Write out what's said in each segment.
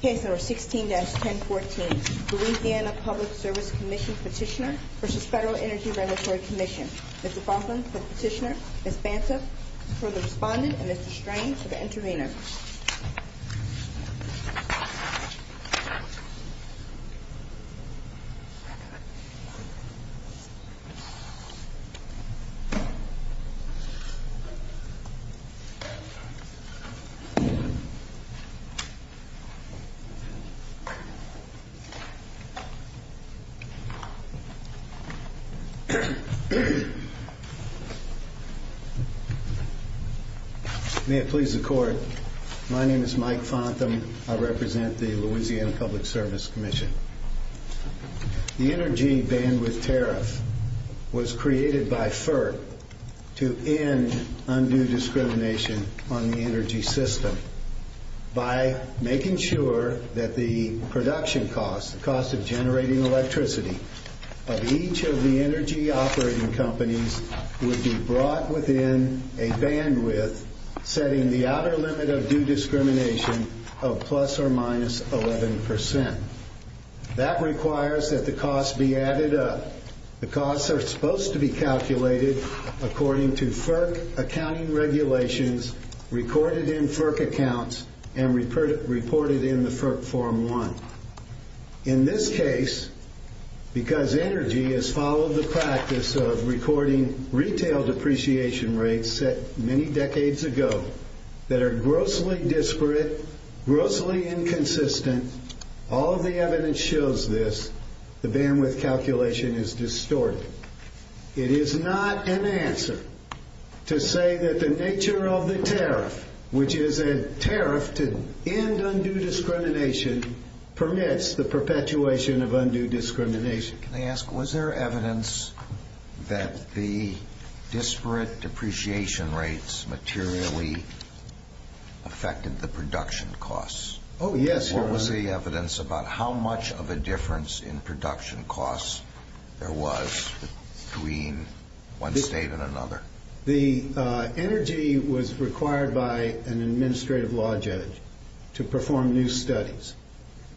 Case No. 16-1014, Louisiana Public Service Commission Petitioner v. Federal Energy Regulatory Commission. Ms. Baldwin for the petitioner, Ms. Banta for the respondent, and Mr. Strain for the intervener. May it please the Court, my name is Mike Fontham. I represent the Louisiana Public Service Commission. The energy bandwidth tariff was created by FERC to end undue discrimination on the energy system by making sure that the production costs, the cost of generating electricity, of each of the energy operating companies would be brought within a bandwidth setting the outer limit of due discrimination of plus or minus 11%. That requires that the costs be added up. The costs are supposed to be calculated according to FERC accounting regulations recorded in FERC accounts and reported in the FERC Form 1. In this case, because energy has followed the practice of recording retail depreciation rates that were set many decades ago, that are grossly disparate, grossly inconsistent, all of the evidence shows this, the bandwidth calculation is distorted. It is not an answer to say that the nature of the tariff, which is a tariff to end undue discrimination, permits the perpetuation of undue discrimination. Can I ask, was there evidence that the disparate depreciation rates materially affected the production costs? Oh, yes, Your Honor. What was the evidence about how much of a difference in production costs there was between one state and another? The energy was required by an administrative law judge to perform new studies.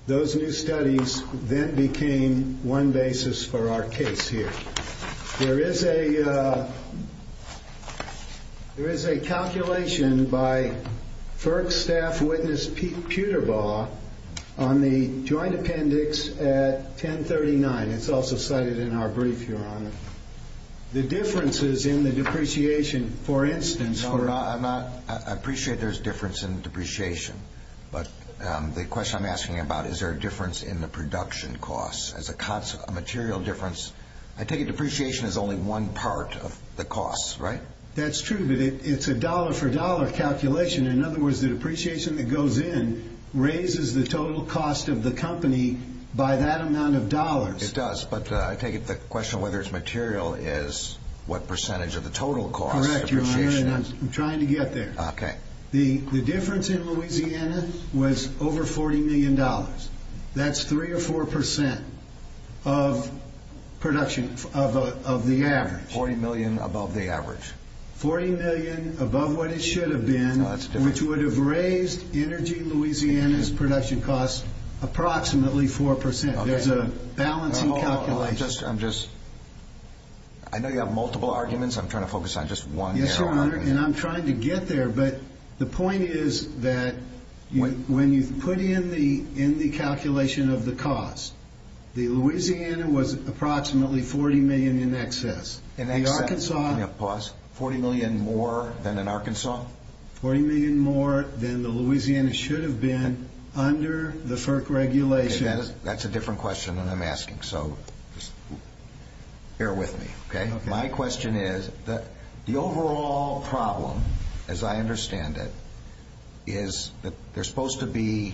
Those new studies then became one basis for our case here. There is a calculation by FERC staff witness, Pete Puterbaugh, on the joint appendix at 1039. It's also cited in our brief, Your Honor. The differences in the depreciation, for instance, for— No, I'm not—I appreciate there's difference in depreciation. But the question I'm asking about, is there a difference in the production costs as a material difference? I take it depreciation is only one part of the costs, right? That's true, but it's a dollar-for-dollar calculation. In other words, the depreciation that goes in raises the total cost of the company by that amount of dollars. It does, but I take it the question of whether it's material is what percentage of the total cost. Correct, Your Honor, and I'm trying to get there. Okay. The difference in Louisiana was over $40 million. That's 3 or 4 percent of production of the average. Forty million above the average. Forty million above what it should have been, which would have raised Energy Louisiana's production costs approximately 4 percent. There's a balancing calculation. I'm just—I know you have multiple arguments. I'm trying to focus on just one, Your Honor. And I'm trying to get there, but the point is that when you put in the calculation of the cost, Louisiana was approximately $40 million in excess. In excess, you're talking about $40 million more than in Arkansas? Forty million more than Louisiana should have been under the FERC regulation. That's a different question than I'm asking, so just bear with me. Okay. My question is the overall problem, as I understand it, is that there's supposed to be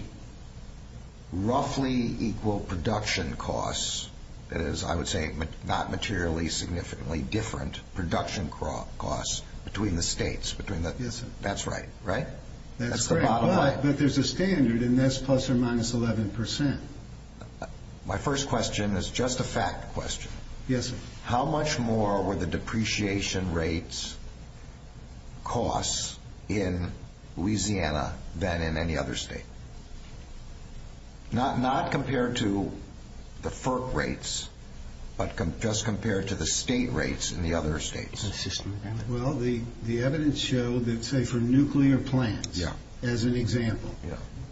roughly equal production costs. That is, I would say not materially significantly different production costs between the states, between the— Yes, sir. That's right, right? That's the bottom line. But there's a standard, and that's plus or minus 11 percent. My first question is just a fact question. Yes, sir. How much more were the depreciation rates costs in Louisiana than in any other state? Not compared to the FERC rates, but just compared to the state rates in the other states. Well, the evidence showed that, say, for nuclear plants as an example,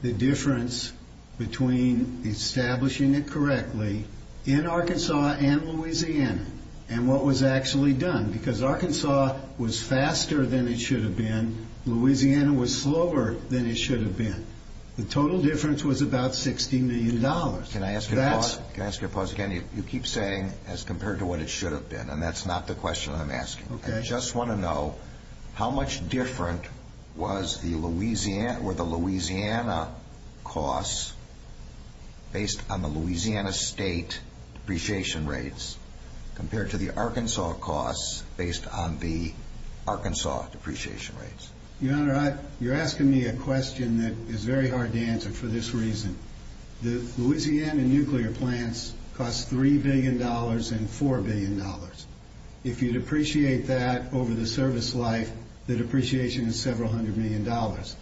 the difference between establishing it correctly in Arkansas and Louisiana and what was actually done, because Arkansas was faster than it should have been. Louisiana was slower than it should have been. The total difference was about $60 million. Can I ask you a pause? Can I ask you a pause again? You keep saying, as compared to what it should have been, and that's not the question I'm asking. Okay. I just want to know, how much different were the Louisiana costs based on the Louisiana state depreciation rates compared to the Arkansas costs based on the Arkansas depreciation rates? Your Honor, you're asking me a question that is very hard to answer for this reason. The Louisiana nuclear plants cost $3 billion and $4 billion. If you depreciate that over the service life, the depreciation is several hundred million dollars.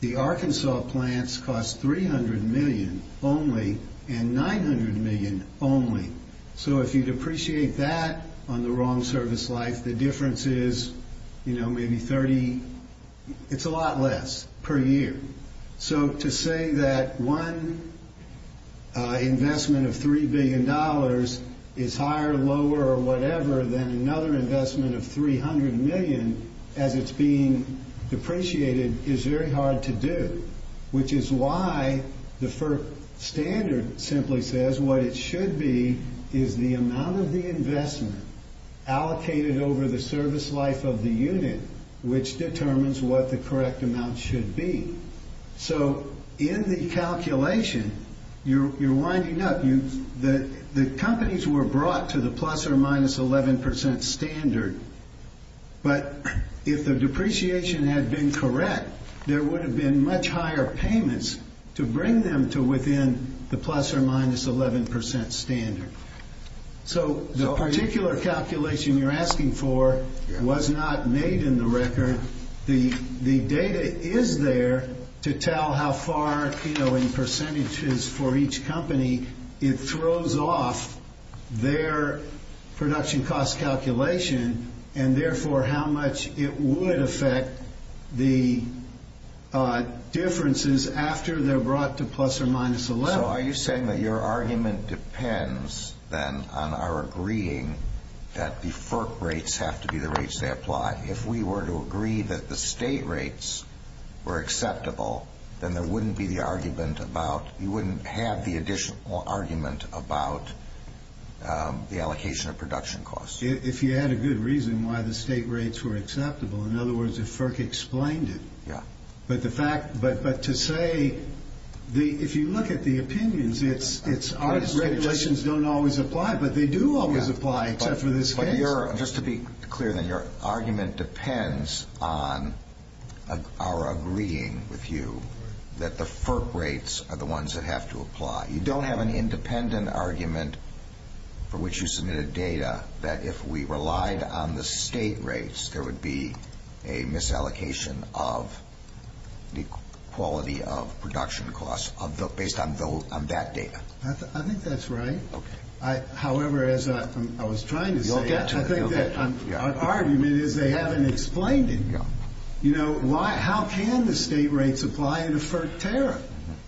The Arkansas plants cost $300 million only and $900 million only. So if you depreciate that on the wrong service life, the difference is, you know, maybe 30. It's a lot less per year. So to say that one investment of $3 billion is higher, lower, or whatever, than another investment of $300 million as it's being depreciated is very hard to do, which is why the FERC standard simply says what it should be is the amount of the investment allocated over the service life of the unit, which determines what the correct amount should be. So in the calculation, you're winding up. The companies were brought to the plus or minus 11% standard. But if the depreciation had been correct, there would have been much higher payments to bring them to within the plus or minus 11% standard. So the particular calculation you're asking for was not made in the record. The data is there to tell how far, you know, in percentages for each company, it throws off their production cost calculation, and therefore how much it would affect the differences after they're brought to plus or minus 11. So are you saying that your argument depends, then, on our agreeing that the FERC rates have to be the rates they apply? If we were to agree that the state rates were acceptable, then you wouldn't have the additional argument about the allocation of production costs. If you had a good reason why the state rates were acceptable, in other words, if FERC explained it. But to say, if you look at the opinions, it's our regulations don't always apply, but they do always apply except for this case. Just to be clear, then, your argument depends on our agreeing with you that the FERC rates are the ones that have to apply. You don't have an independent argument for which you submitted data that if we relied on the state rates, there would be a misallocation of the quality of production costs based on that data. I think that's right. Okay. However, as I was trying to say, I think that our argument is they haven't explained it. You know, how can the state rates apply in a FERC tariff?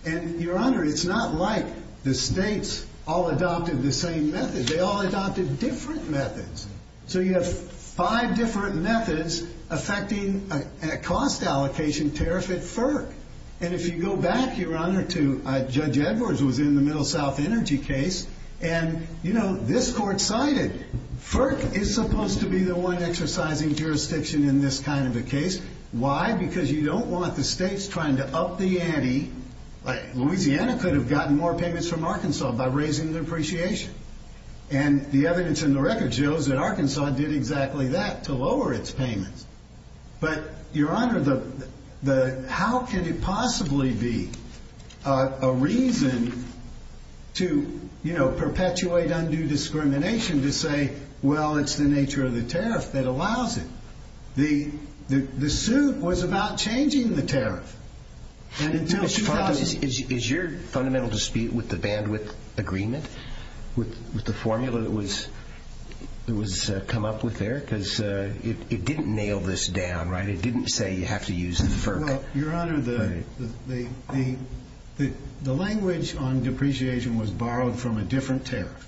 And, Your Honor, it's not like the states all adopted the same method. They all adopted different methods. So you have five different methods affecting a cost allocation tariff at FERC. And if you go back, Your Honor, to Judge Edwards who was in the Middle South Energy case, and, you know, this court cited, FERC is supposed to be the one exercising jurisdiction in this kind of a case. Why? Because you don't want the states trying to up the ante. Louisiana could have gotten more payments from Arkansas by raising the depreciation. And the evidence in the record shows that Arkansas did exactly that to lower its payments. But, Your Honor, how can it possibly be a reason to, you know, perpetuate undue discrimination to say, well, it's the nature of the tariff that allows it? The suit was about changing the tariff. Is your fundamental dispute with the bandwidth agreement, with the formula that was come up with there? Because it didn't nail this down, right? It didn't say you have to use the FERC. Well, Your Honor, the language on depreciation was borrowed from a different tariff.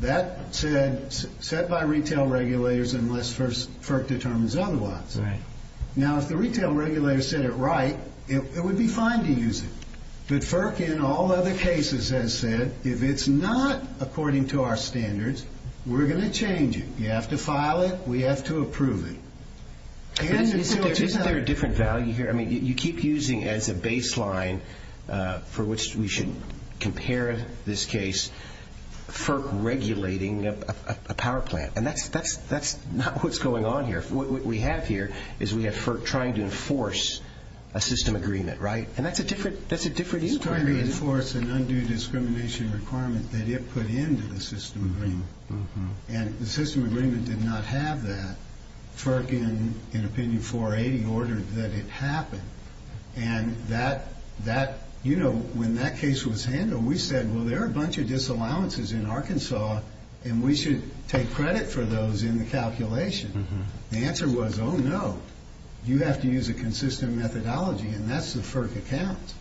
That said, set by retail regulators unless FERC determines otherwise. That's right. Now, if the retail regulator said it right, it would be fine to use it. But FERC in all other cases has said, if it's not according to our standards, we're going to change it. You have to file it. We have to approve it. Is there a different value here? I mean, you keep using as a baseline for which we should compare this case FERC regulating a power plant. And that's not what's going on here. What we have here is we have FERC trying to enforce a system agreement, right? And that's a different inquiry. It's trying to enforce an undue discrimination requirement that it put into the system agreement. And the system agreement did not have that. FERC, in Opinion 480, ordered that it happen. And when that case was handled, we said, well, there are a bunch of disallowances in Arkansas, and we should take credit for those in the calculation. The answer was, oh, no. You have to use a consistent methodology, and that's the FERC account.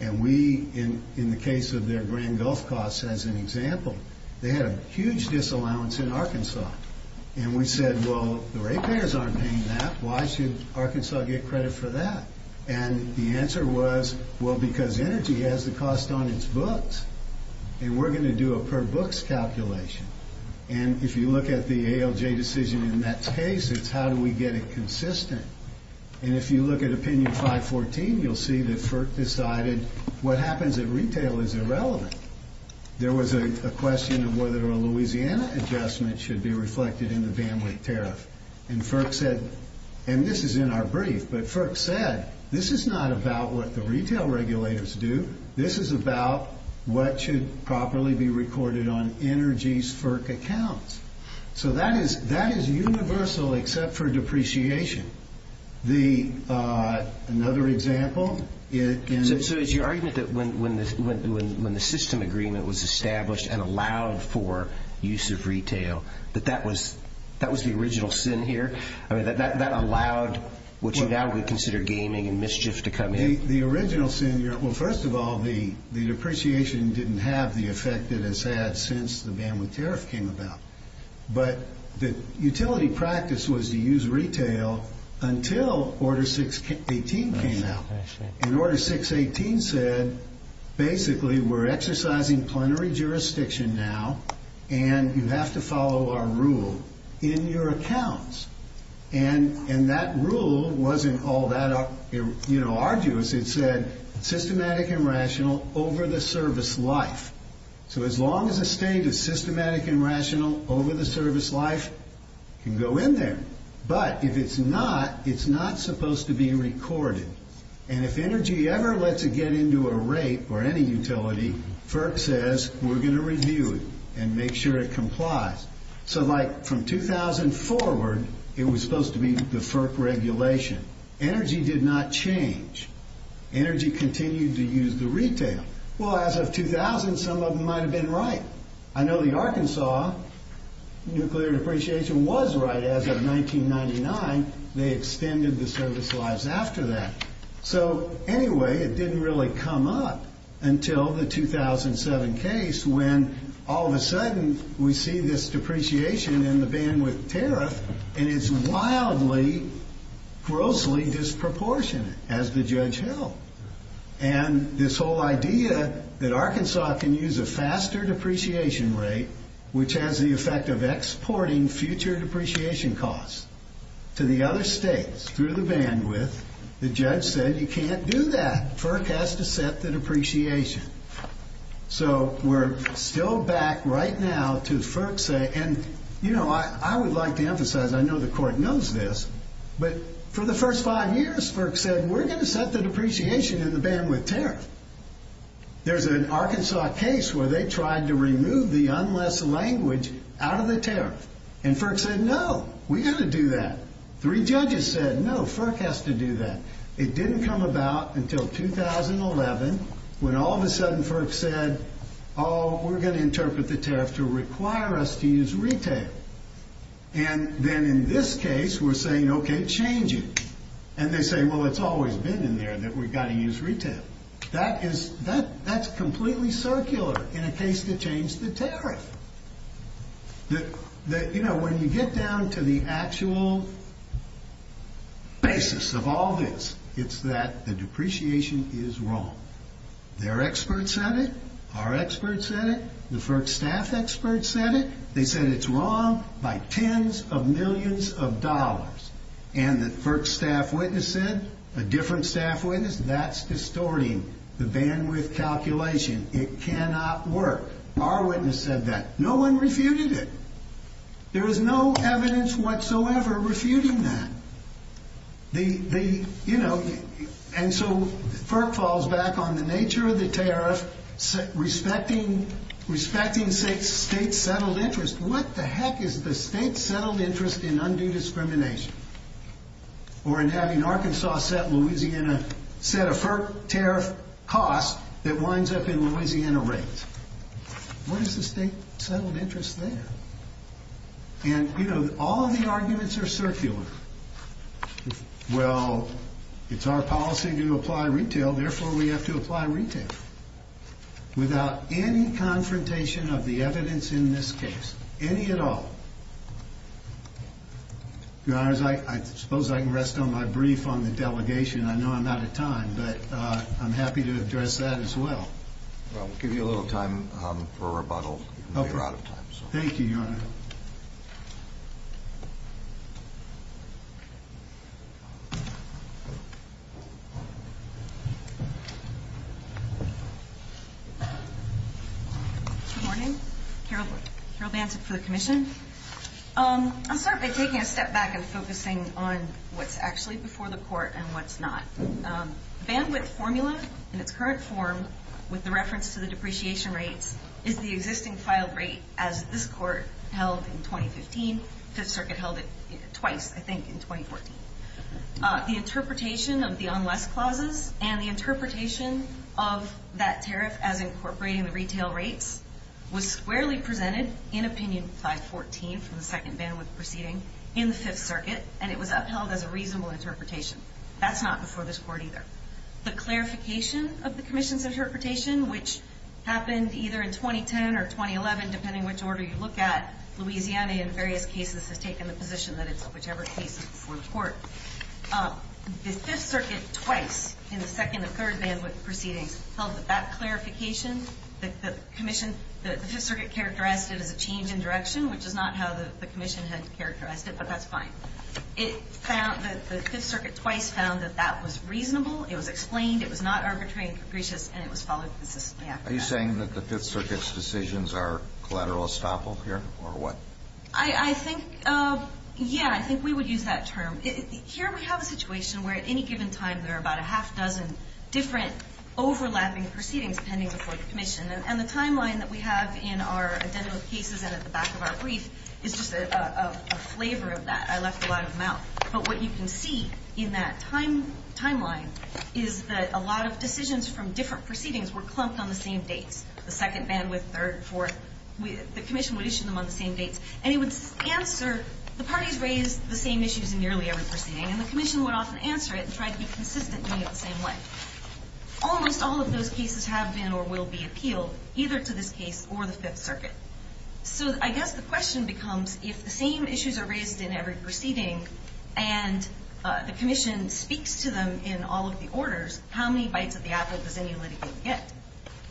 And we, in the case of their Grand Gulf costs as an example, they had a huge disallowance in Arkansas. And we said, well, the rate payers aren't paying that. Why should Arkansas get credit for that? And the answer was, well, because energy has the cost on its books. And we're going to do a per books calculation. And if you look at the ALJ decision in that case, it's how do we get it consistent. And if you look at Opinion 514, you'll see that FERC decided what happens at retail is irrelevant. There was a question of whether a Louisiana adjustment should be reflected in the bandwidth tariff. And FERC said, and this is in our brief, but FERC said, this is not about what the retail regulators do. This is about what should properly be recorded on energy's FERC accounts. So that is universal except for depreciation. Another example. So it's your argument that when the system agreement was established and allowed for use of retail, that that was the original sin here? I mean, that allowed what you now would consider gaming and mischief to come in? Well, first of all, the depreciation didn't have the effect it has had since the bandwidth tariff came about. But the utility practice was to use retail until Order 618 came out. And Order 618 said, basically, we're exercising plenary jurisdiction now, and you have to follow our rule in your accounts. And that rule wasn't all that arduous. It said, systematic and rational over the service life. So as long as a state is systematic and rational over the service life, it can go in there. But if it's not, it's not supposed to be recorded. And if energy ever lets it get into a rate or any utility, FERC says, we're going to review it and make sure it complies. So from 2000 forward, it was supposed to be the FERC regulation. Energy did not change. Energy continued to use the retail. Well, as of 2000, some of them might have been right. I know the Arkansas nuclear depreciation was right as of 1999. They extended the service lives after that. So anyway, it didn't really come up until the 2007 case when all of a sudden we see this depreciation and the bandwidth tariff, and it's wildly, grossly disproportionate, as the judge held. And this whole idea that Arkansas can use a faster depreciation rate, which has the effect of exporting future depreciation costs to the other states through the bandwidth, the judge said, you can't do that. FERC has to set the depreciation. So we're still back right now to FERC say, and, you know, I would like to emphasize, I know the court knows this, but for the first five years, FERC said, we're going to set the depreciation and the bandwidth tariff. There's an Arkansas case where they tried to remove the unless language out of the tariff. And FERC said, no, we've got to do that. Three judges said, no, FERC has to do that. It didn't come about until 2011 when all of a sudden FERC said, oh, we're going to interpret the tariff to require us to use retail. And then in this case, we're saying, okay, change it. And they say, well, it's always been in there that we've got to use retail. That's completely circular in a case to change the tariff. You know, when you get down to the actual basis of all this, it's that the depreciation is wrong. Their expert said it. Our expert said it. The FERC staff expert said it. They said it's wrong by tens of millions of dollars. And the FERC staff witness said, a different staff witness, that's distorting the bandwidth calculation. It cannot work. Our witness said that. No one refuted it. There is no evidence whatsoever refuting that. The, you know, and so FERC falls back on the nature of the tariff, respecting state settled interest. What the heck is the state settled interest in undue discrimination? Or in having Arkansas set Louisiana, set a FERC tariff cost that winds up in Louisiana rates. What is the state settled interest there? And, you know, all of the arguments are circular. Well, it's our policy to apply retail, therefore we have to apply retail. Without any confrontation of the evidence in this case, any at all. Your Honors, I suppose I can rest on my brief on the delegation. I know I'm out of time, but I'm happy to address that as well. Well, we'll give you a little time for rebuttal. You're out of time. Thank you, Your Honor. Good morning. Carol Banton for the commission. I'll start by taking a step back and focusing on what's actually before the court and what's not. Bandwidth formula in its current form, with the reference to the depreciation rates, is the existing filed rate as this court held in 2015. Fifth Circuit held it twice, I think, in 2014. The interpretation of the unless clauses and the interpretation of that tariff as incorporating the retail rates was squarely presented in opinion 514 from the second bandwidth proceeding in the Fifth Circuit, and it was upheld as a reasonable interpretation. That's not before this court either. The clarification of the commission's interpretation, which happened either in 2010 or 2011, depending which order you look at, Louisiana in various cases has taken the position that it's whichever case is before the court. The Fifth Circuit twice, in the second and third bandwidth proceedings, held that that clarification, the commission, the Fifth Circuit characterized it as a change in direction, which is not how the commission had characterized it, but that's fine. The Fifth Circuit twice found that that was reasonable, it was explained, it was not arbitrary and capricious, and it was followed consistently after that. Are you saying that the Fifth Circuit's decisions are collateral estoppel here, or what? I think, yeah, I think we would use that term. Here we have a situation where at any given time there are about a half dozen different overlapping proceedings pending before the commission, and the timeline that we have in our identical cases and at the back of our brief is just a flavor of that. I left a lot of them out. But what you can see in that timeline is that a lot of decisions from different proceedings were clumped on the same dates, the second bandwidth, third, fourth. The commission would issue them on the same dates, and it would answer. The parties raised the same issues in nearly every proceeding, and the commission would often answer it and try to be consistent in doing it the same way. Almost all of those cases have been or will be appealed, either to this case or the Fifth Circuit. So I guess the question becomes if the same issues are raised in every proceeding and the commission speaks to them in all of the orders, how many bites of the apple does any litigate get?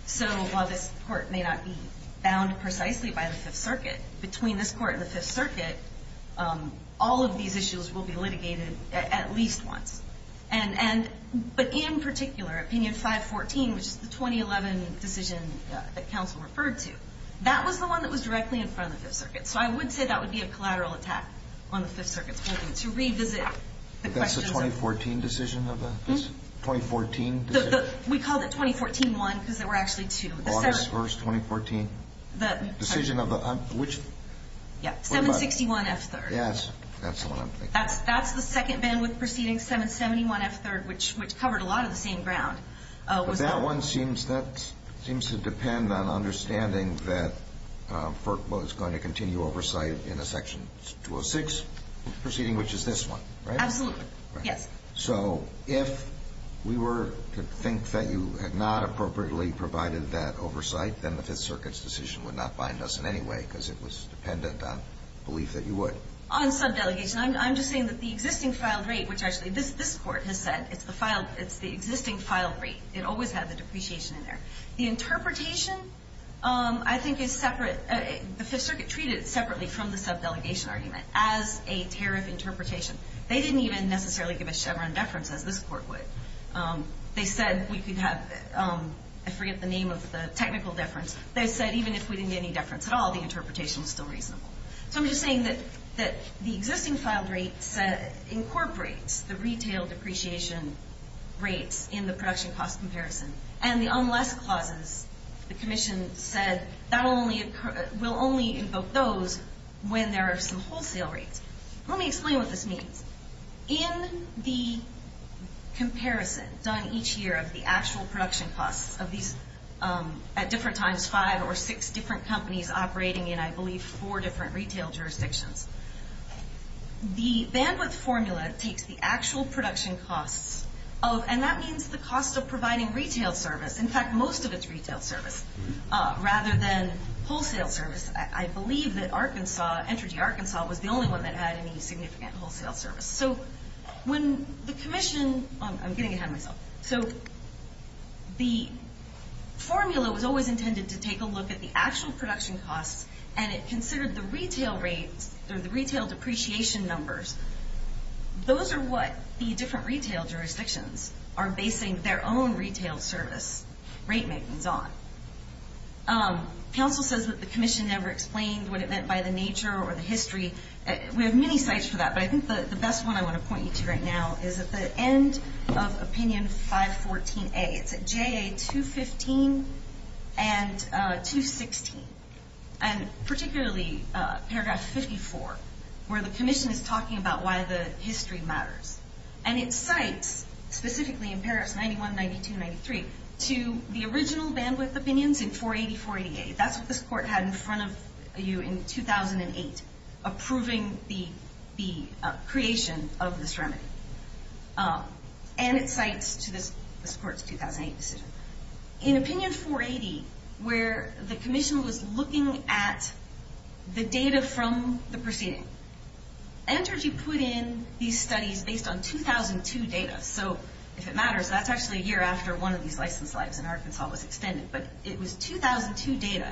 So while this court may not be bound precisely by the Fifth Circuit, between this court and the Fifth Circuit, all of these issues will be litigated at least once. But in particular, Opinion 514, which is the 2011 decision that counsel referred to, that was the one that was directly in front of the Fifth Circuit. So I would say that would be a collateral attack on the Fifth Circuit's ability to revisit the questions. But that's the 2014 decision? We called it 2014-1 because there were actually two. August 1, 2014. Decision of which? 761F3. Yes, that's the one I'm thinking of. And then proceeding 771F3, which covered a lot of the same ground. But that one seems to depend on understanding that FERC was going to continue oversight in a Section 206 proceeding, which is this one, right? Absolutely. Yes. So if we were to think that you had not appropriately provided that oversight, then the Fifth Circuit's decision would not bind us in any way because it was dependent on belief that you would. On subdelegation, I'm just saying that the existing filed rate, which actually this Court has said it's the existing filed rate. It always had the depreciation in there. The interpretation, I think, is separate. The Fifth Circuit treated it separately from the subdelegation argument as a tariff interpretation. They didn't even necessarily give a Chevron deference as this Court would. They said we could have the technical deference. They said even if we didn't get any deference at all, the interpretation was still reasonable. So I'm just saying that the existing filed rate incorporates the retail depreciation rates in the production cost comparison. And the unless clauses, the Commission said, will only invoke those when there are some wholesale rates. Let me explain what this means. In the comparison done each year of the actual production costs of these, at different times, five or six different companies operating in, I believe, four different retail jurisdictions. The bandwidth formula takes the actual production costs of, and that means the cost of providing retail service, in fact, most of its retail service, rather than wholesale service. I believe that Entergy Arkansas was the only one that had any significant wholesale service. So the formula was always intended to take a look at the actual production costs, and it considered the retail rates or the retail depreciation numbers. Those are what the different retail jurisdictions are basing their own retail service rate makings on. Council says that the Commission never explained what it meant by the nature or the history. We have many sites for that, but I think the best one I want to point you to right now is at the end of Opinion 514A. It's at JA 215 and 216, and particularly paragraph 54, where the Commission is talking about why the history matters. And it cites, specifically in paragraphs 91, 92, and 93, to the original bandwidth opinions in 480, 488. That's what this court had in front of you in 2008, approving the creation of this remedy. And it cites to this court's 2008 decision. In Opinion 480, where the Commission was looking at the data from the proceeding, Entergy put in these studies based on 2002 data. So if it matters, that's actually a year after one of these licensed lives in Arkansas was extended. But it was 2002 data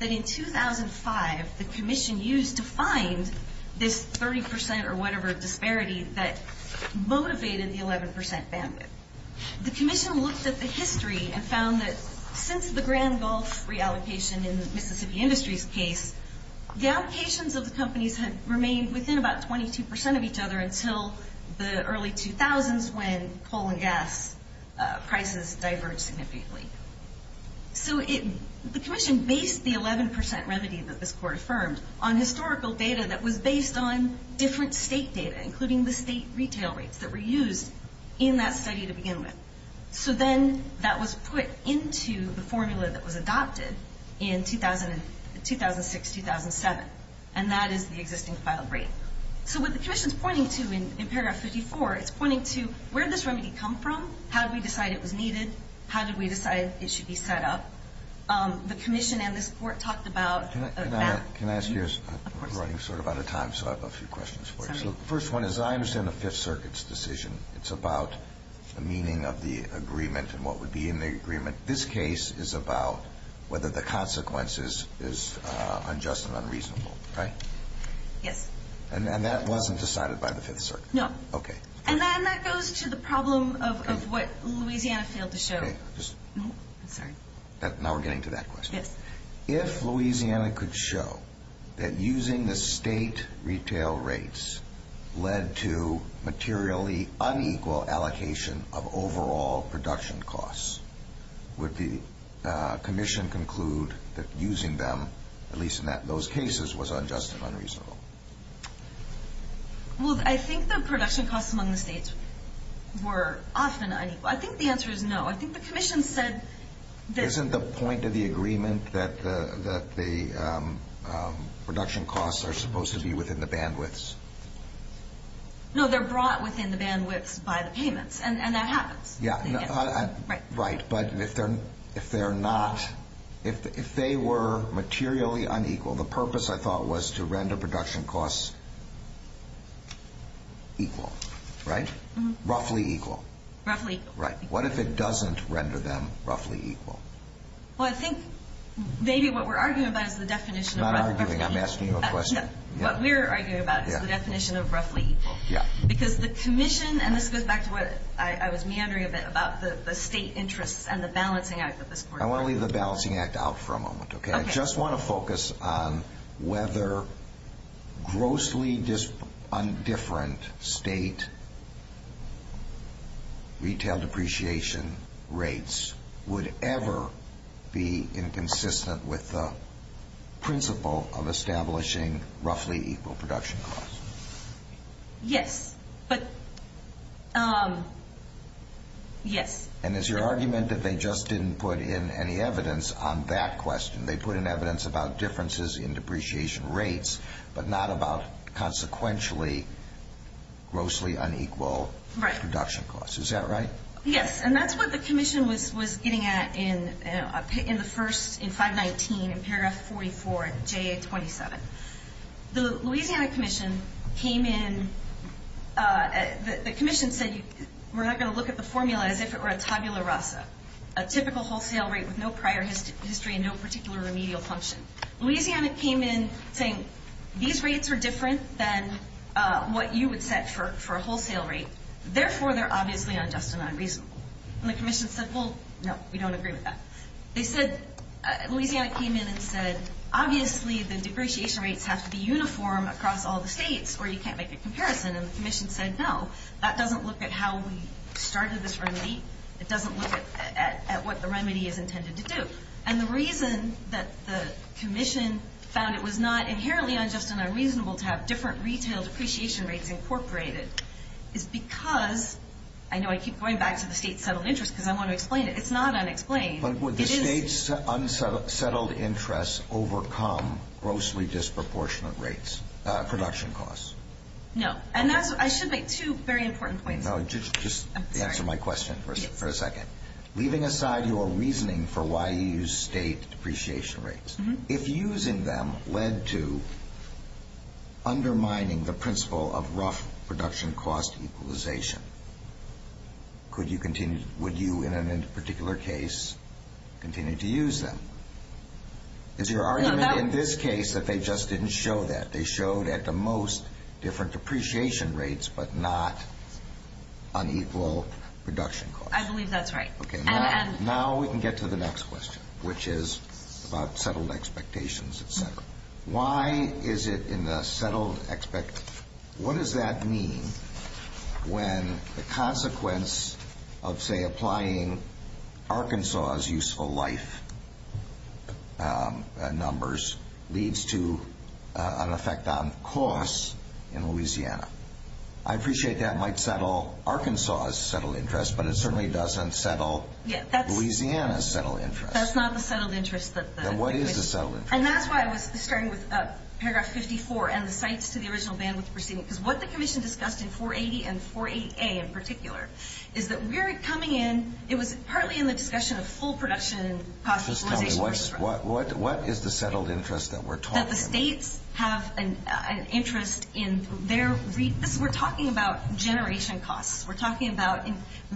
that in 2005 the Commission used to find this 30% or whatever disparity that motivated the 11% bandwidth. The Commission looked at the history and found that since the Grand Gulf reallocation in the Mississippi Industries case, the allocations of the companies had remained within about 22% of each other until the early 2000s when coal and gas prices diverged significantly. So the Commission based the 11% remedy that this court affirmed on historical data that was based on different state data, including the state retail rates that were used in that study to begin with. So then that was put into the formula that was adopted in 2006-2007, and that is the existing filed rate. So what the Commission is pointing to in paragraph 54, it's pointing to where did this remedy come from, how did we decide it was needed, how did we decide it should be set up. The Commission and this court talked about that. Can I ask you a question? We're running sort of out of time, so I have a few questions for you. The first one is I understand the Fifth Circuit's decision. It's about the meaning of the agreement and what would be in the agreement. This case is about whether the consequences is unjust and unreasonable, right? Yes. And that wasn't decided by the Fifth Circuit? No. Okay. And then that goes to the problem of what Louisiana failed to show. Okay. I'm sorry. Now we're getting to that question. Yes. If Louisiana could show that using the state retail rates led to materially unequal allocation of overall production costs, would the Commission conclude that using them, at least in those cases, was unjust and unreasonable? Well, I think the production costs among the states were often unequal. I think the answer is no. I think the Commission said that... Isn't the point of the agreement that the production costs are supposed to be within the bandwidths? No, they're brought within the bandwidths by the payments, and that happens. Yeah. Right. But if they're not, if they were materially unequal, the purpose, I thought, was to render production costs equal, right? Roughly equal. Roughly equal. Right. What if it doesn't render them roughly equal? Well, I think maybe what we're arguing about is the definition of roughly equal. I'm not arguing. I'm asking you a question. No, what we're arguing about is the definition of roughly equal. Yeah. Because the Commission, and this goes back to what I was meandering a bit about, the state interests and the balancing act that this Court... I want to leave the balancing act out for a moment, okay? Okay. I just want to focus on whether grossly indifferent state retail depreciation rates would ever be inconsistent with the principle of establishing roughly equal production costs. Yes. But, yes. And is your argument that they just didn't put in any evidence on that question? They put in evidence about differences in depreciation rates, but not about consequentially grossly unequal production costs. Is that right? Yes. And that's what the Commission was getting at in the first, in 519, in paragraph 44, J.A. 27. The Louisiana Commission came in... The Commission said, we're not going to look at the formula as if it were a tabula rasa, a typical wholesale rate with no prior history and no particular remedial function. Louisiana came in saying, these rates are different than what you would set for a wholesale rate. Therefore, they're obviously unjust and unreasonable. And the Commission said, well, no, we don't agree with that. They said, Louisiana came in and said, obviously the depreciation rates have to be uniform across all the states or you can't make a comparison. And the Commission said, no, that doesn't look at how we started this remedy. It doesn't look at what the remedy is intended to do. And the reason that the Commission found it was not inherently unjust and unreasonable to have different retail depreciation rates incorporated is because, I know I keep going back to the state settled interest because I want to explain it. It's not unexplained. But would the state's unsettled interest overcome grossly disproportionate rates, production costs? No. And I should make two very important points. Just answer my question for a second. Leaving aside your reasoning for why you use state depreciation rates, if using them led to undermining the principle of rough production cost equalization, would you, in a particular case, continue to use them? Is your argument in this case that they just didn't show that? They showed at the most different depreciation rates but not unequal production costs? I believe that's right. Okay. Now we can get to the next question, which is about settled expectations, et cetera. Why is it in the settled expectation? What does that mean when the consequence of, say, applying Arkansas' useful life numbers leads to an effect on costs in Louisiana? I appreciate that might settle Arkansas' settled interest, but it certainly doesn't settle Louisiana's settled interest. That's not the settled interest that the Commission. And what is the settled interest? And that's why I was starting with Paragraph 54 and the cites to the original bandwidth proceeding, because what the Commission discussed in 480 and 488 in particular is that we're coming in. It was partly in the discussion of full production cost equalization. Just tell me, what is the settled interest that we're talking about? That the states have an interest in their – we're talking about generation costs. We're talking about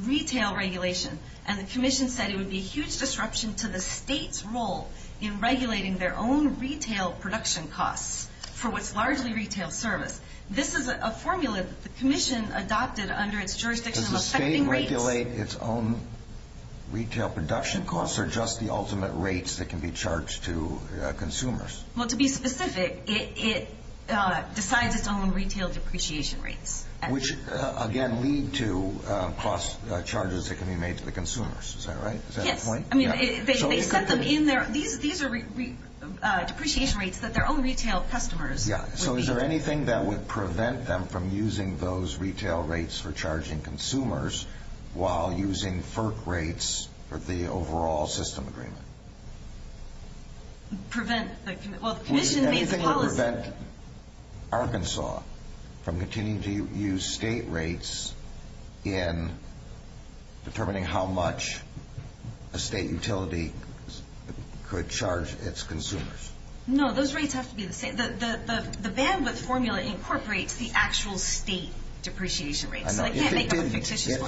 retail regulation. And the Commission said it would be a huge disruption to the state's role in regulating their own retail production costs for what's largely retail service. This is a formula that the Commission adopted under its jurisdiction of affecting rates. Does the state regulate its own retail production costs or just the ultimate rates that can be charged to consumers? Well, to be specific, it decides its own retail depreciation rates. Which, again, lead to cost charges that can be made to the consumers. Is that right? Is that the point? Yes. I mean, they set them in there. These are depreciation rates that their own retail customers would be. So is there anything that would prevent them from using those retail rates for charging consumers while using FERC rates for the overall system agreement? Prevent? Well, the Commission made the policy. Prevent Arkansas from continuing to use state rates in determining how much a state utility could charge its consumers. No, those rates have to be the same. The bandwidth formula incorporates the actual state depreciation rates. I know. If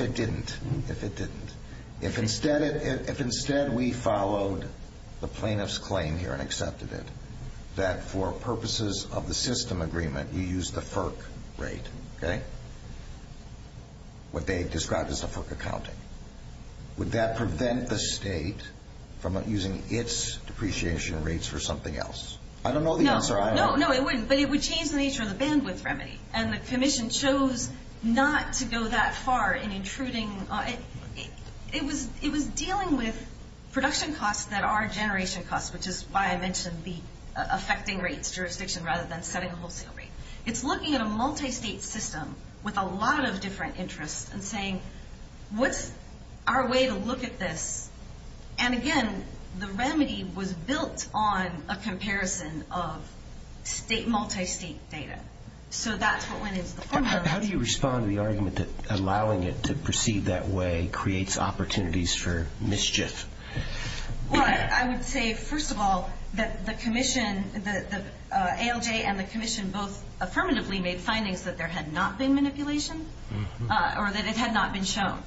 it didn't. If it didn't. If instead we followed the plaintiff's claim here and accepted it, that for purposes of the system agreement we use the FERC rate, okay? What they described as the FERC accounting. Would that prevent the state from using its depreciation rates for something else? I don't know the answer either. No, it wouldn't. But it would change the nature of the bandwidth remedy. And the Commission chose not to go that far in intruding. It was dealing with production costs that are generation costs, which is why I mentioned the affecting rates jurisdiction rather than setting a wholesale rate. It's looking at a multi-state system with a lot of different interests and saying, what's our way to look at this? And again, the remedy was built on a comparison of state, multi-state data. So that's what went into the formula. How do you respond to the argument that allowing it to proceed that way creates opportunities for mischief? Well, I would say, first of all, that the ALJ and the Commission both affirmatively made findings that there had not been manipulation or that it had not been shown.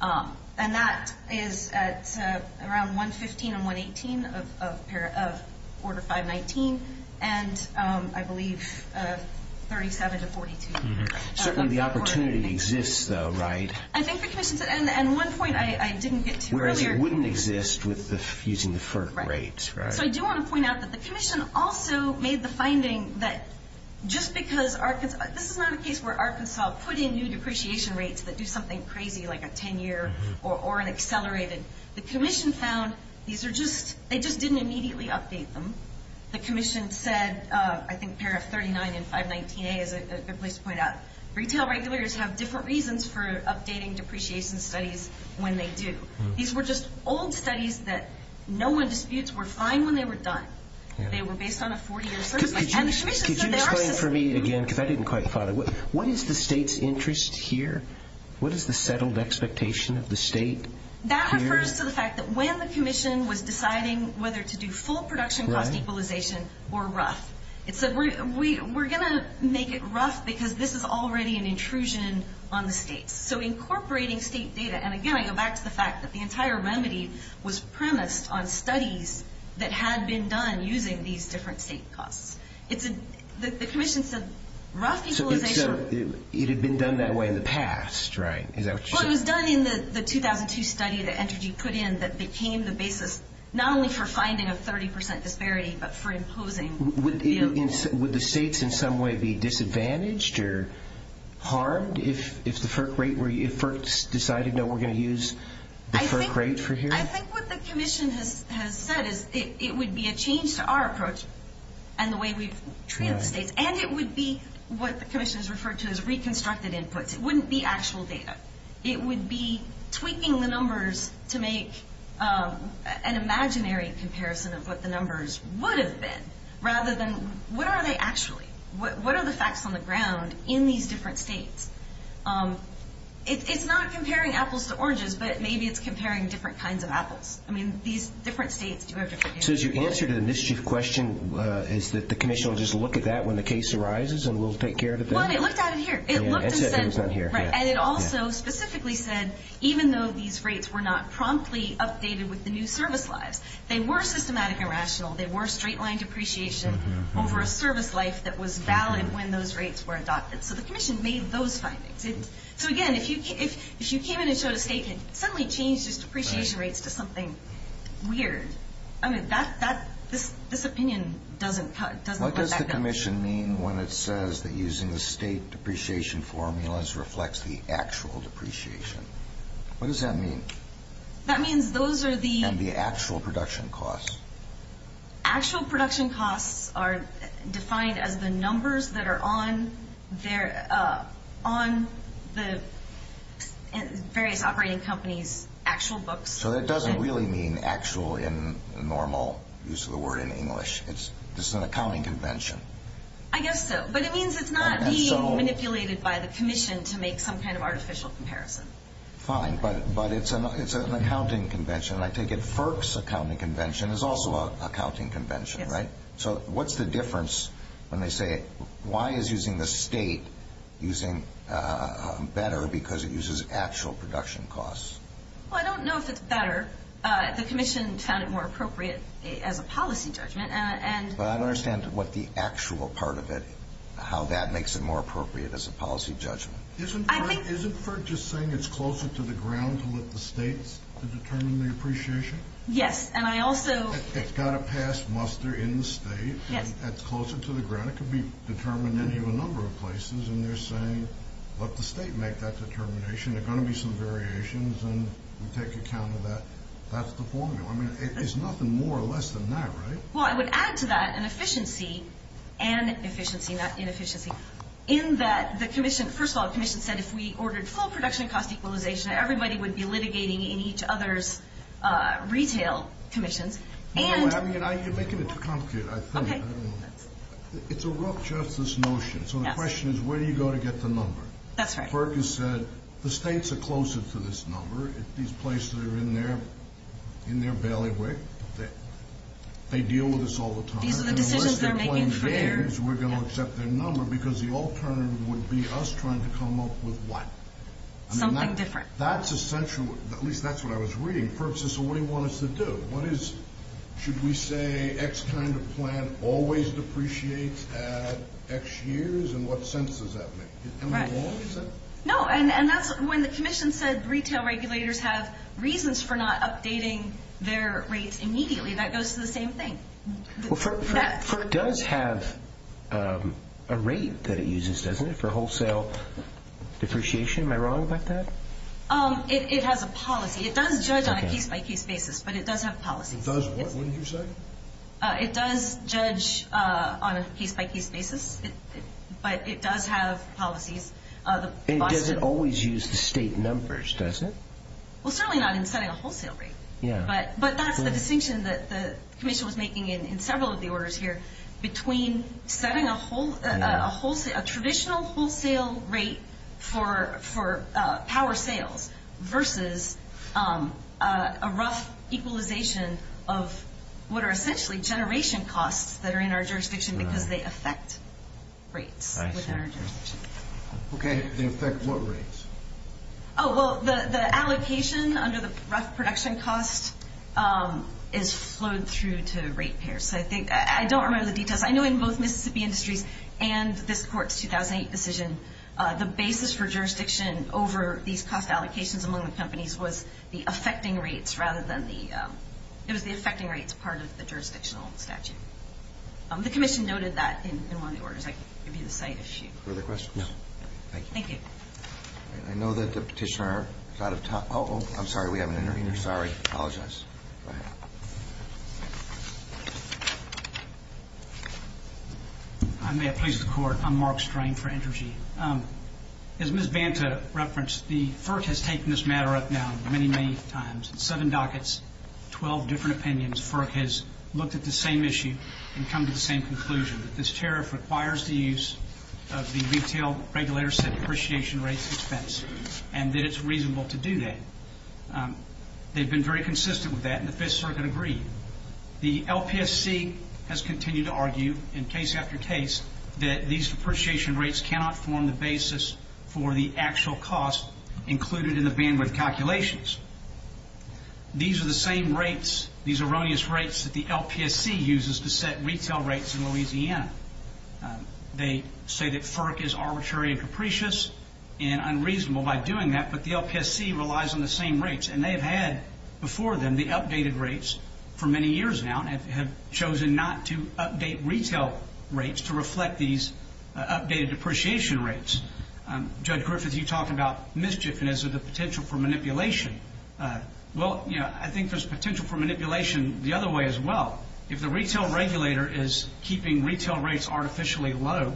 And that is at around 115 and 118 of Order 519 and, I believe, 37 to 42. Certainly the opportunity exists, though, right? I think the Commission said, and one point I didn't get to earlier. Whereas it wouldn't exist using the FERC rates, right? So I do want to point out that the Commission also made the finding that just because Arkansas – this is not a case where Arkansas put in new depreciation rates that do something crazy like a 10-year or an accelerated. The Commission found these are just – they just didn't immediately update them. The Commission said, I think, pair of 39 and 519A is a good place to point out. Retail regulators have different reasons for updating depreciation studies when they do. These were just old studies that no one disputes were fine when they were done. They were based on a 40-year survey. Could you explain for me again, because I didn't quite follow. What is the state's interest here? What is the settled expectation of the state? That refers to the fact that when the Commission was deciding whether to do full production cost equalization or RUF, it said we're going to make it RUF because this is already an intrusion on the states. So incorporating state data – and again, I go back to the fact that the entire remedy was premised on studies that had been done using these different state costs. The Commission said RUF equalization – So it had been done that way in the past, right? Well, it was done in the 2002 study that Entergy put in that became the basis not only for finding a 30% disparity but for imposing. Would the states in some way be disadvantaged or harmed if FERC decided, no, we're going to use the FERC rate for here? I think what the Commission has said is it would be a change to our approach and the way we've treated the states, and it would be what the Commission has referred to as reconstructed inputs. It wouldn't be actual data. It would be tweaking the numbers to make an imaginary comparison of what the numbers would have been rather than what are they actually? What are the facts on the ground in these different states? It's not comparing apples to oranges, but maybe it's comparing different kinds of apples. I mean, these different states do have different data. So your answer to the mischief question is that the Commission will just look at that when the case arises and we'll take care of it then? Well, and it looked at it here. And it also specifically said even though these rates were not promptly updated with the new service lives, they were systematic and rational. They were straight-line depreciation over a service life that was valid when those rates were adopted. So the Commission made those findings. So again, if you came in and showed a state that suddenly changed its depreciation rates to something weird, I mean, this opinion doesn't cut back down. What does the Commission mean when it says that using the state depreciation formulas reflects the actual depreciation? What does that mean? That means those are the... And the actual production costs. Actual production costs are defined as the numbers that are on the various operating companies' actual books. So that doesn't really mean actual in the normal use of the word in English. This is an accounting convention. I guess so. But it means it's not being manipulated by the Commission to make some kind of artificial comparison. Fine. But it's an accounting convention. And I take it FERC's accounting convention is also an accounting convention, right? Yes. So what's the difference when they say why is using the state better because it uses actual production costs? Well, I don't know if it's better. The Commission found it more appropriate as a policy judgment. But I don't understand what the actual part of it, how that makes it more appropriate as a policy judgment. Isn't FERC just saying it's closer to the ground to let the states determine the depreciation? Yes, and I also... It's got to pass muster in the state. Yes. That's closer to the ground. It could be determined in even a number of places. And they're saying let the state make that determination. There are going to be some variations, and we take account of that. That's the formula. I mean, there's nothing more or less than that, right? Well, I would add to that an efficiency and efficiency, not inefficiency, in that the Commission... First of all, the Commission said if we ordered full production cost equalization, everybody would be litigating in each other's retail commissions. No, you're making it too complicated, I think. Okay. It's a rough justice notion. So the question is where do you go to get the number? That's right. Percis said the states are closer to this number. These places are in their bailiwick. They deal with this all the time. These are the decisions they're making for their... And unless they're playing games, we're going to accept their number because the alternative would be us trying to come up with what? Something different. That's essential. At least that's what I was reading. Percis, what do you want us to do? What is... Should we say X kind of plant always depreciates at X years? And what sense does that make? No, and that's when the Commission said retail regulators have reasons for not updating their rates immediately. That goes to the same thing. FERC does have a rate that it uses, doesn't it, for wholesale depreciation. Am I wrong about that? It has a policy. It does judge on a case-by-case basis, but it does have policies. It does what, wouldn't you say? It does judge on a case-by-case basis, but it does have policies. And does it always use the state numbers, does it? Well, certainly not in setting a wholesale rate. But that's the distinction that the Commission was making in several of the orders here between setting a traditional wholesale rate for power sales versus a rough equalization of what are essentially generation costs that are in our jurisdiction because they affect rates within our jurisdiction. Okay, they affect what rates? Oh, well, the allocation under the rough production cost is flowed through to rate pairs. So I don't remember the details. I know in both Mississippi Industries and this court's 2008 decision, the basis for jurisdiction over these cost allocations among the companies was the affecting rates rather than the – it was the affecting rates part of the jurisdictional statute. The Commission noted that in one of the orders. I can give you the site if you – Further questions? No. Thank you. Thank you. I know that the petitioner is out of time. Uh-oh, I'm sorry, we have an intervener. Sorry, I apologize. Go ahead. I may have pleased the court. I'm Mark Strain for Entergy. As Ms. Banta referenced, the FERC has taken this matter up now many, many times. Seven dockets, 12 different opinions. FERC has looked at the same issue and come to the same conclusion, that this tariff requires the use of the retail regulator-set appreciation rates expense and that it's reasonable to do that. They've been very consistent with that and the Fifth Circuit agreed. The LPSC has continued to argue in case after case that these depreciation rates cannot form the basis for the actual cost included in the bandwidth calculations. These are the same rates, these erroneous rates, that the LPSC uses to set retail rates in Louisiana. They say that FERC is arbitrary and capricious and unreasonable by doing that, but the LPSC relies on the same rates, and they have had before them the updated rates for many years now and have chosen not to update retail rates to reflect these updated depreciation rates. Judge Griffith, you talk about mischief and the potential for manipulation. Well, I think there's potential for manipulation the other way as well. If the retail regulator is keeping retail rates artificially low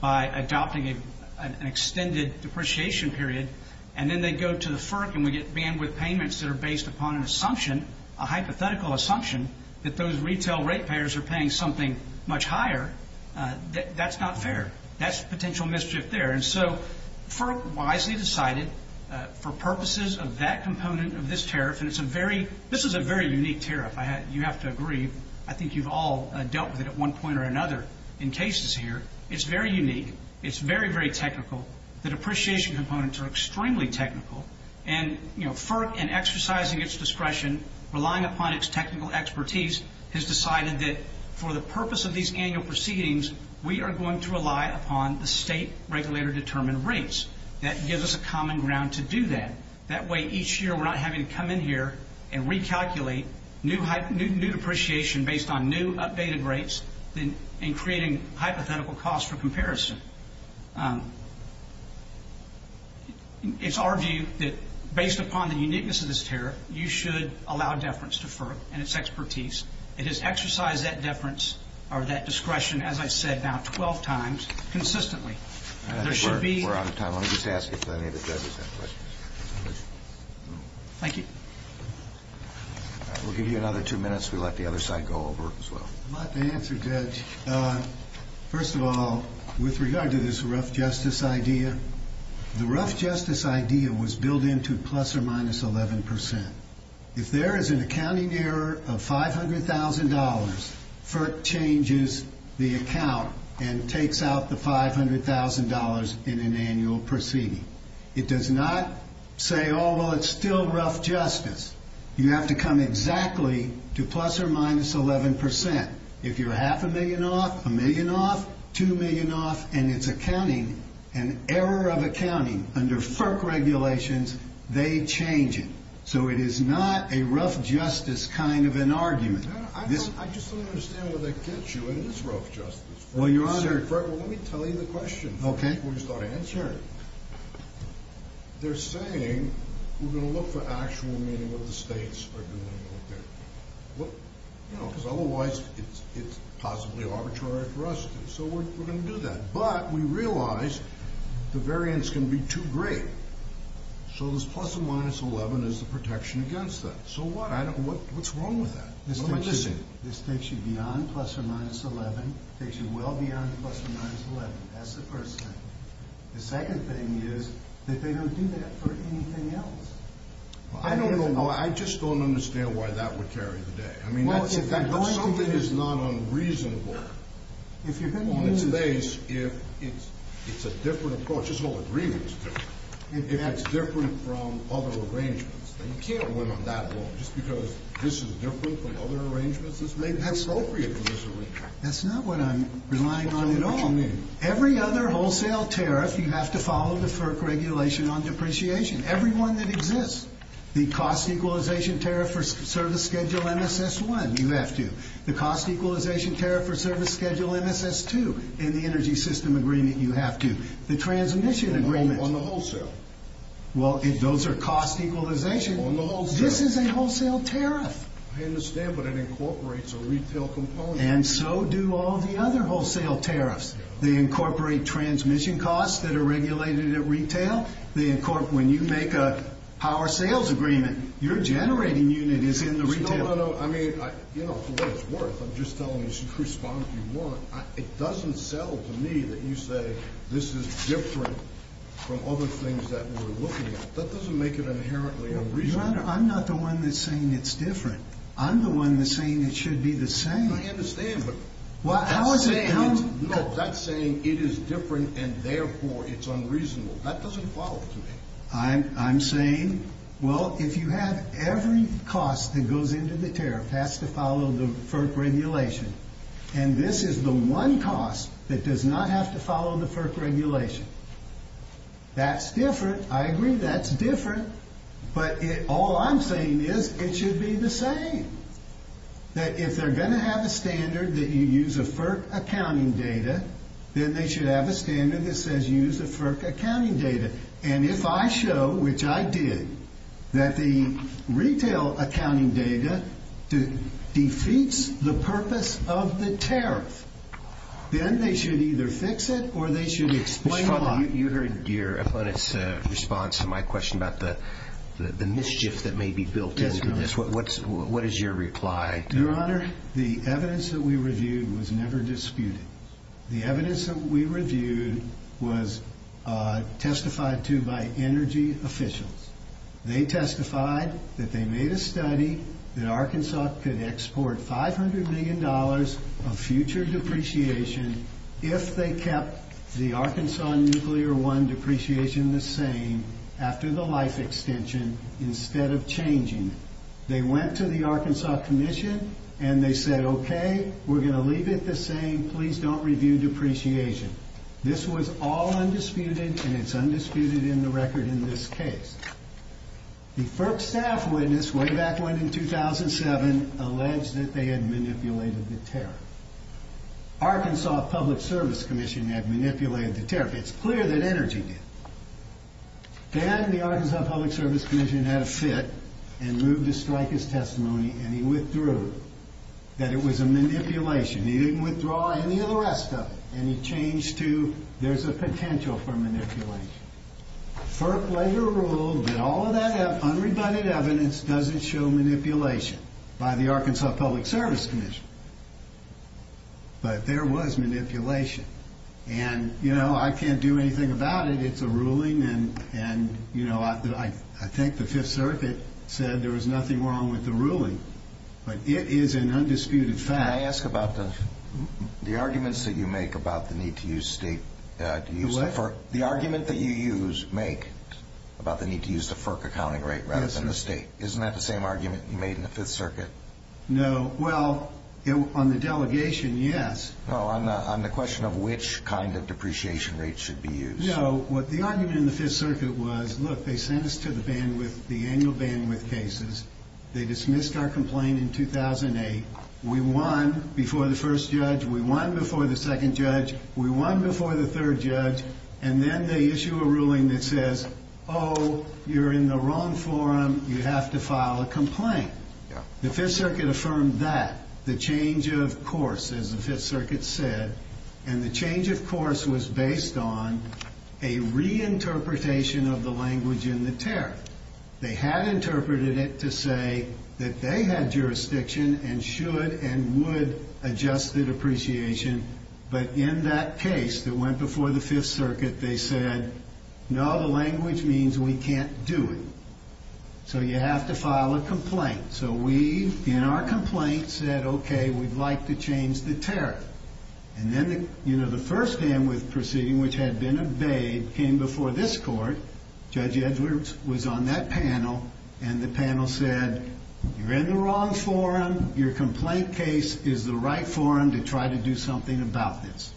by adopting an extended depreciation period, and then they go to the FERC and we get bandwidth payments that are based upon an assumption, a hypothetical assumption that those retail rate payers are paying something much higher, that's not fair. That's potential mischief there. And so FERC wisely decided for purposes of that component of this tariff, and this is a very unique tariff, you have to agree. I think you've all dealt with it at one point or another in cases here. It's very unique. It's very, very technical. The depreciation components are extremely technical, and FERC in exercising its discretion, relying upon its technical expertise, has decided that for the purpose of these annual proceedings, we are going to rely upon the state regulator-determined rates. That gives us a common ground to do that. That way each year we're not having to come in here and recalculate new depreciation based on new updated rates and creating hypothetical costs for comparison. It's our view that based upon the uniqueness of this tariff, you should allow deference to FERC and its expertise. It has exercised that deference or that discretion, as I said, now 12 times consistently. I think we're out of time. Let me just ask if any of the judges have questions. Thank you. We'll give you another two minutes. We'll let the other side go over as well. I'd like to answer, Judge. First of all, with regard to this rough justice idea, the rough justice idea was built into plus or minus 11%. If there is an accounting error of $500,000, FERC changes the account and takes out the $500,000 in an annual proceeding. It does not say, oh, well, it's still rough justice. You have to come exactly to plus or minus 11%. If you're half a million off, a million off, two million off, and it's accounting, an error of accounting under FERC regulations, they change it. So it is not a rough justice kind of an argument. I just don't understand where they get you in this rough justice. Well, Your Honor. Let me tell you the question before you start answering it. They're saying we're going to look for actual meaning of what the states are doing over there. You know, because otherwise it's possibly arbitrary for us. So we're going to do that. But we realize the variance can be too great. So this plus or minus 11 is the protection against that. So what? What's wrong with that? What am I missing? This takes you beyond plus or minus 11. It takes you well beyond plus or minus 11. That's the first thing. The second thing is that they don't do that for anything else. I don't know. I just don't understand why that would carry the day. I mean, if something is not unreasonable on its face, if it's a different approach. This whole agreement is different. If it's different from other arrangements. You can't win on that alone just because this is different from other arrangements. It's made appropriate for this arrangement. That's not what I'm relying on at all. What do you mean? Every other wholesale tariff, you have to follow the FERC regulation on depreciation. Every one that exists. The cost equalization tariff for service schedule MSS-1, you have to. The cost equalization tariff for service schedule MSS-2. In the energy system agreement, you have to. The transmission agreement. On the wholesale? Well, if those are cost equalization, this is a wholesale tariff. I understand, but it incorporates a retail component. And so do all the other wholesale tariffs. They incorporate transmission costs that are regulated at retail. When you make a power sales agreement, your generating unit is in the retail. No, no, no. I mean, for what it's worth, I'm just telling you to respond if you want. It doesn't sell to me that you say this is different from other things that we're looking at. That doesn't make it inherently unreasonable. Your Honor, I'm not the one that's saying it's different. I'm the one that's saying it should be the same. I understand, but that's saying it. No, that's saying it is different and, therefore, it's unreasonable. That doesn't follow to me. I'm saying, well, if you have every cost that goes into the tariff has to follow the FERC regulation, and this is the one cost that does not have to follow the FERC regulation, that's different. I agree that's different. But all I'm saying is it should be the same. If they're going to have a standard that you use a FERC accounting data, then they should have a standard that says you use a FERC accounting data. And if I show, which I did, that the retail accounting data defeats the purpose of the tariff, then they should either fix it or they should explain why. Mr. Fraulein, you heard your opponent's response to my question about the mischief that may be built into this. What is your reply? Your Honor, the evidence that we reviewed was never disputed. The evidence that we reviewed was testified to by energy officials. They testified that they made a study that Arkansas could export $500 million of future depreciation if they kept the Arkansas Nuclear One depreciation the same after the life extension instead of changing it. They went to the Arkansas Commission and they said, okay, we're going to leave it the same, please don't review depreciation. This was all undisputed and it's undisputed in the record in this case. The FERC staff witness way back when in 2007 alleged that they had manipulated the tariff. Arkansas Public Service Commission had manipulated the tariff. It's clear that energy did. Then the Arkansas Public Service Commission had a fit and moved to strike his testimony and he withdrew that it was a manipulation. He didn't withdraw any of the rest of it and he changed to there's a potential for manipulation. FERC later ruled that all of that unrebutted evidence doesn't show manipulation by the Arkansas Public Service Commission. But there was manipulation. I can't do anything about it. It's a ruling and I think the Fifth Circuit said there was nothing wrong with the ruling. But it is an undisputed fact. Can I ask about the arguments that you make about the need to use state? The argument that you make about the need to use the FERC accounting rate rather than the state, isn't that the same argument you made in the Fifth Circuit? No. Well, on the delegation, yes. No, on the question of which kind of depreciation rate should be used. No. What the argument in the Fifth Circuit was, look, they sent us to the annual bandwidth cases. They dismissed our complaint in 2008. We won before the first judge. We won before the second judge. We won before the third judge. And then they issue a ruling that says, oh, you're in the wrong forum. You have to file a complaint. The Fifth Circuit affirmed that, the change of course, as the Fifth Circuit said. And the change of course was based on a reinterpretation of the language in the tariff. They had interpreted it to say that they had jurisdiction and should and would adjust the depreciation. But in that case that went before the Fifth Circuit, they said, no, the language means we can't do it. So you have to file a complaint. So we, in our complaint, said, okay, we'd like to change the tariff. And then the first bandwidth proceeding, which had been obeyed, came before this court. Judge Edwards was on that panel. And the panel said, you're in the wrong forum. Your complaint case is the right forum to try to do something about this.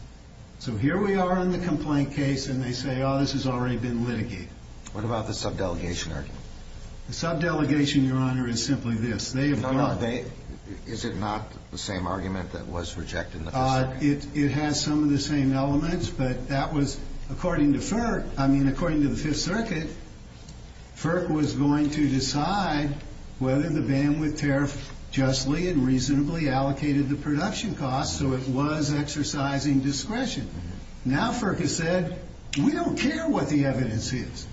So here we are in the complaint case, and they say, oh, this has already been litigated. What about the subdelegation argument? The subdelegation, Your Honor, is simply this. No, no. Is it not the same argument that was rejected in the Fifth Circuit? It has some of the same elements. But that was according to FERC. I mean, according to the Fifth Circuit, FERC was going to decide whether the bandwidth tariff justly and reasonably allocated the production costs. So it was exercising discretion. Now FERC has said, we don't care what the evidence is.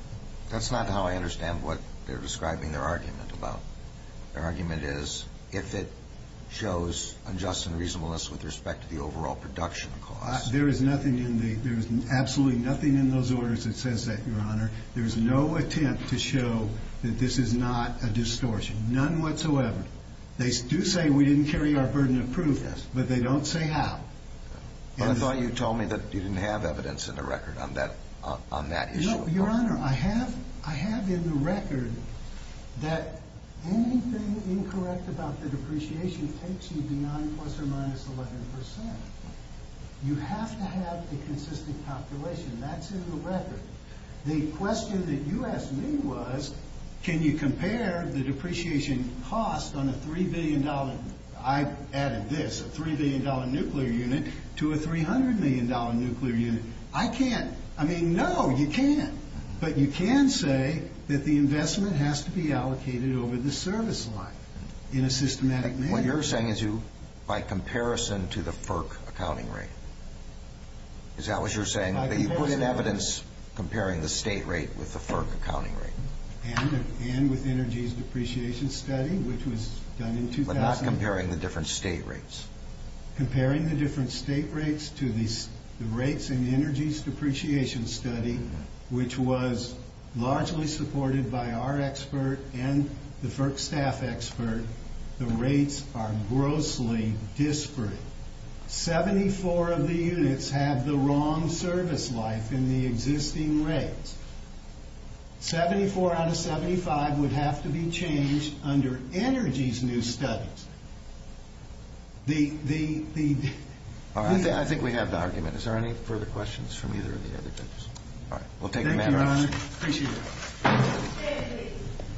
That's not how I understand what they're describing their argument about. Their argument is if it shows unjust and reasonableness with respect to the overall production cost. There is absolutely nothing in those orders that says that, Your Honor. There is no attempt to show that this is not a distortion. None whatsoever. They do say we didn't carry our burden of proof, but they don't say how. But I thought you told me that you didn't have evidence in the record on that issue. No, Your Honor. Your Honor, I have in the record that anything incorrect about the depreciation takes you beyond plus or minus 11%. You have to have a consistent calculation. That's in the record. The question that you asked me was, can you compare the depreciation cost on a $3 billion, I added this, a $3 billion nuclear unit to a $300 million nuclear unit? I can't. I mean, no, you can. But you can say that the investment has to be allocated over the service line in a systematic manner. What you're saying is by comparison to the FERC accounting rate. Is that what you're saying? By comparison. You put in evidence comparing the state rate with the FERC accounting rate. And with energy's depreciation study, which was done in 2000. But not comparing the different state rates. Comparing the different state rates to the rates in energy's depreciation study, which was largely supported by our expert and the FERC staff expert. The rates are grossly disparate. 74 of the units have the wrong service life in the existing rates. 74 out of 75 would have to be changed under energy's new studies. I think we have the argument. Is there any further questions from either of the other judges? Thank you, Your Honor. Appreciate it.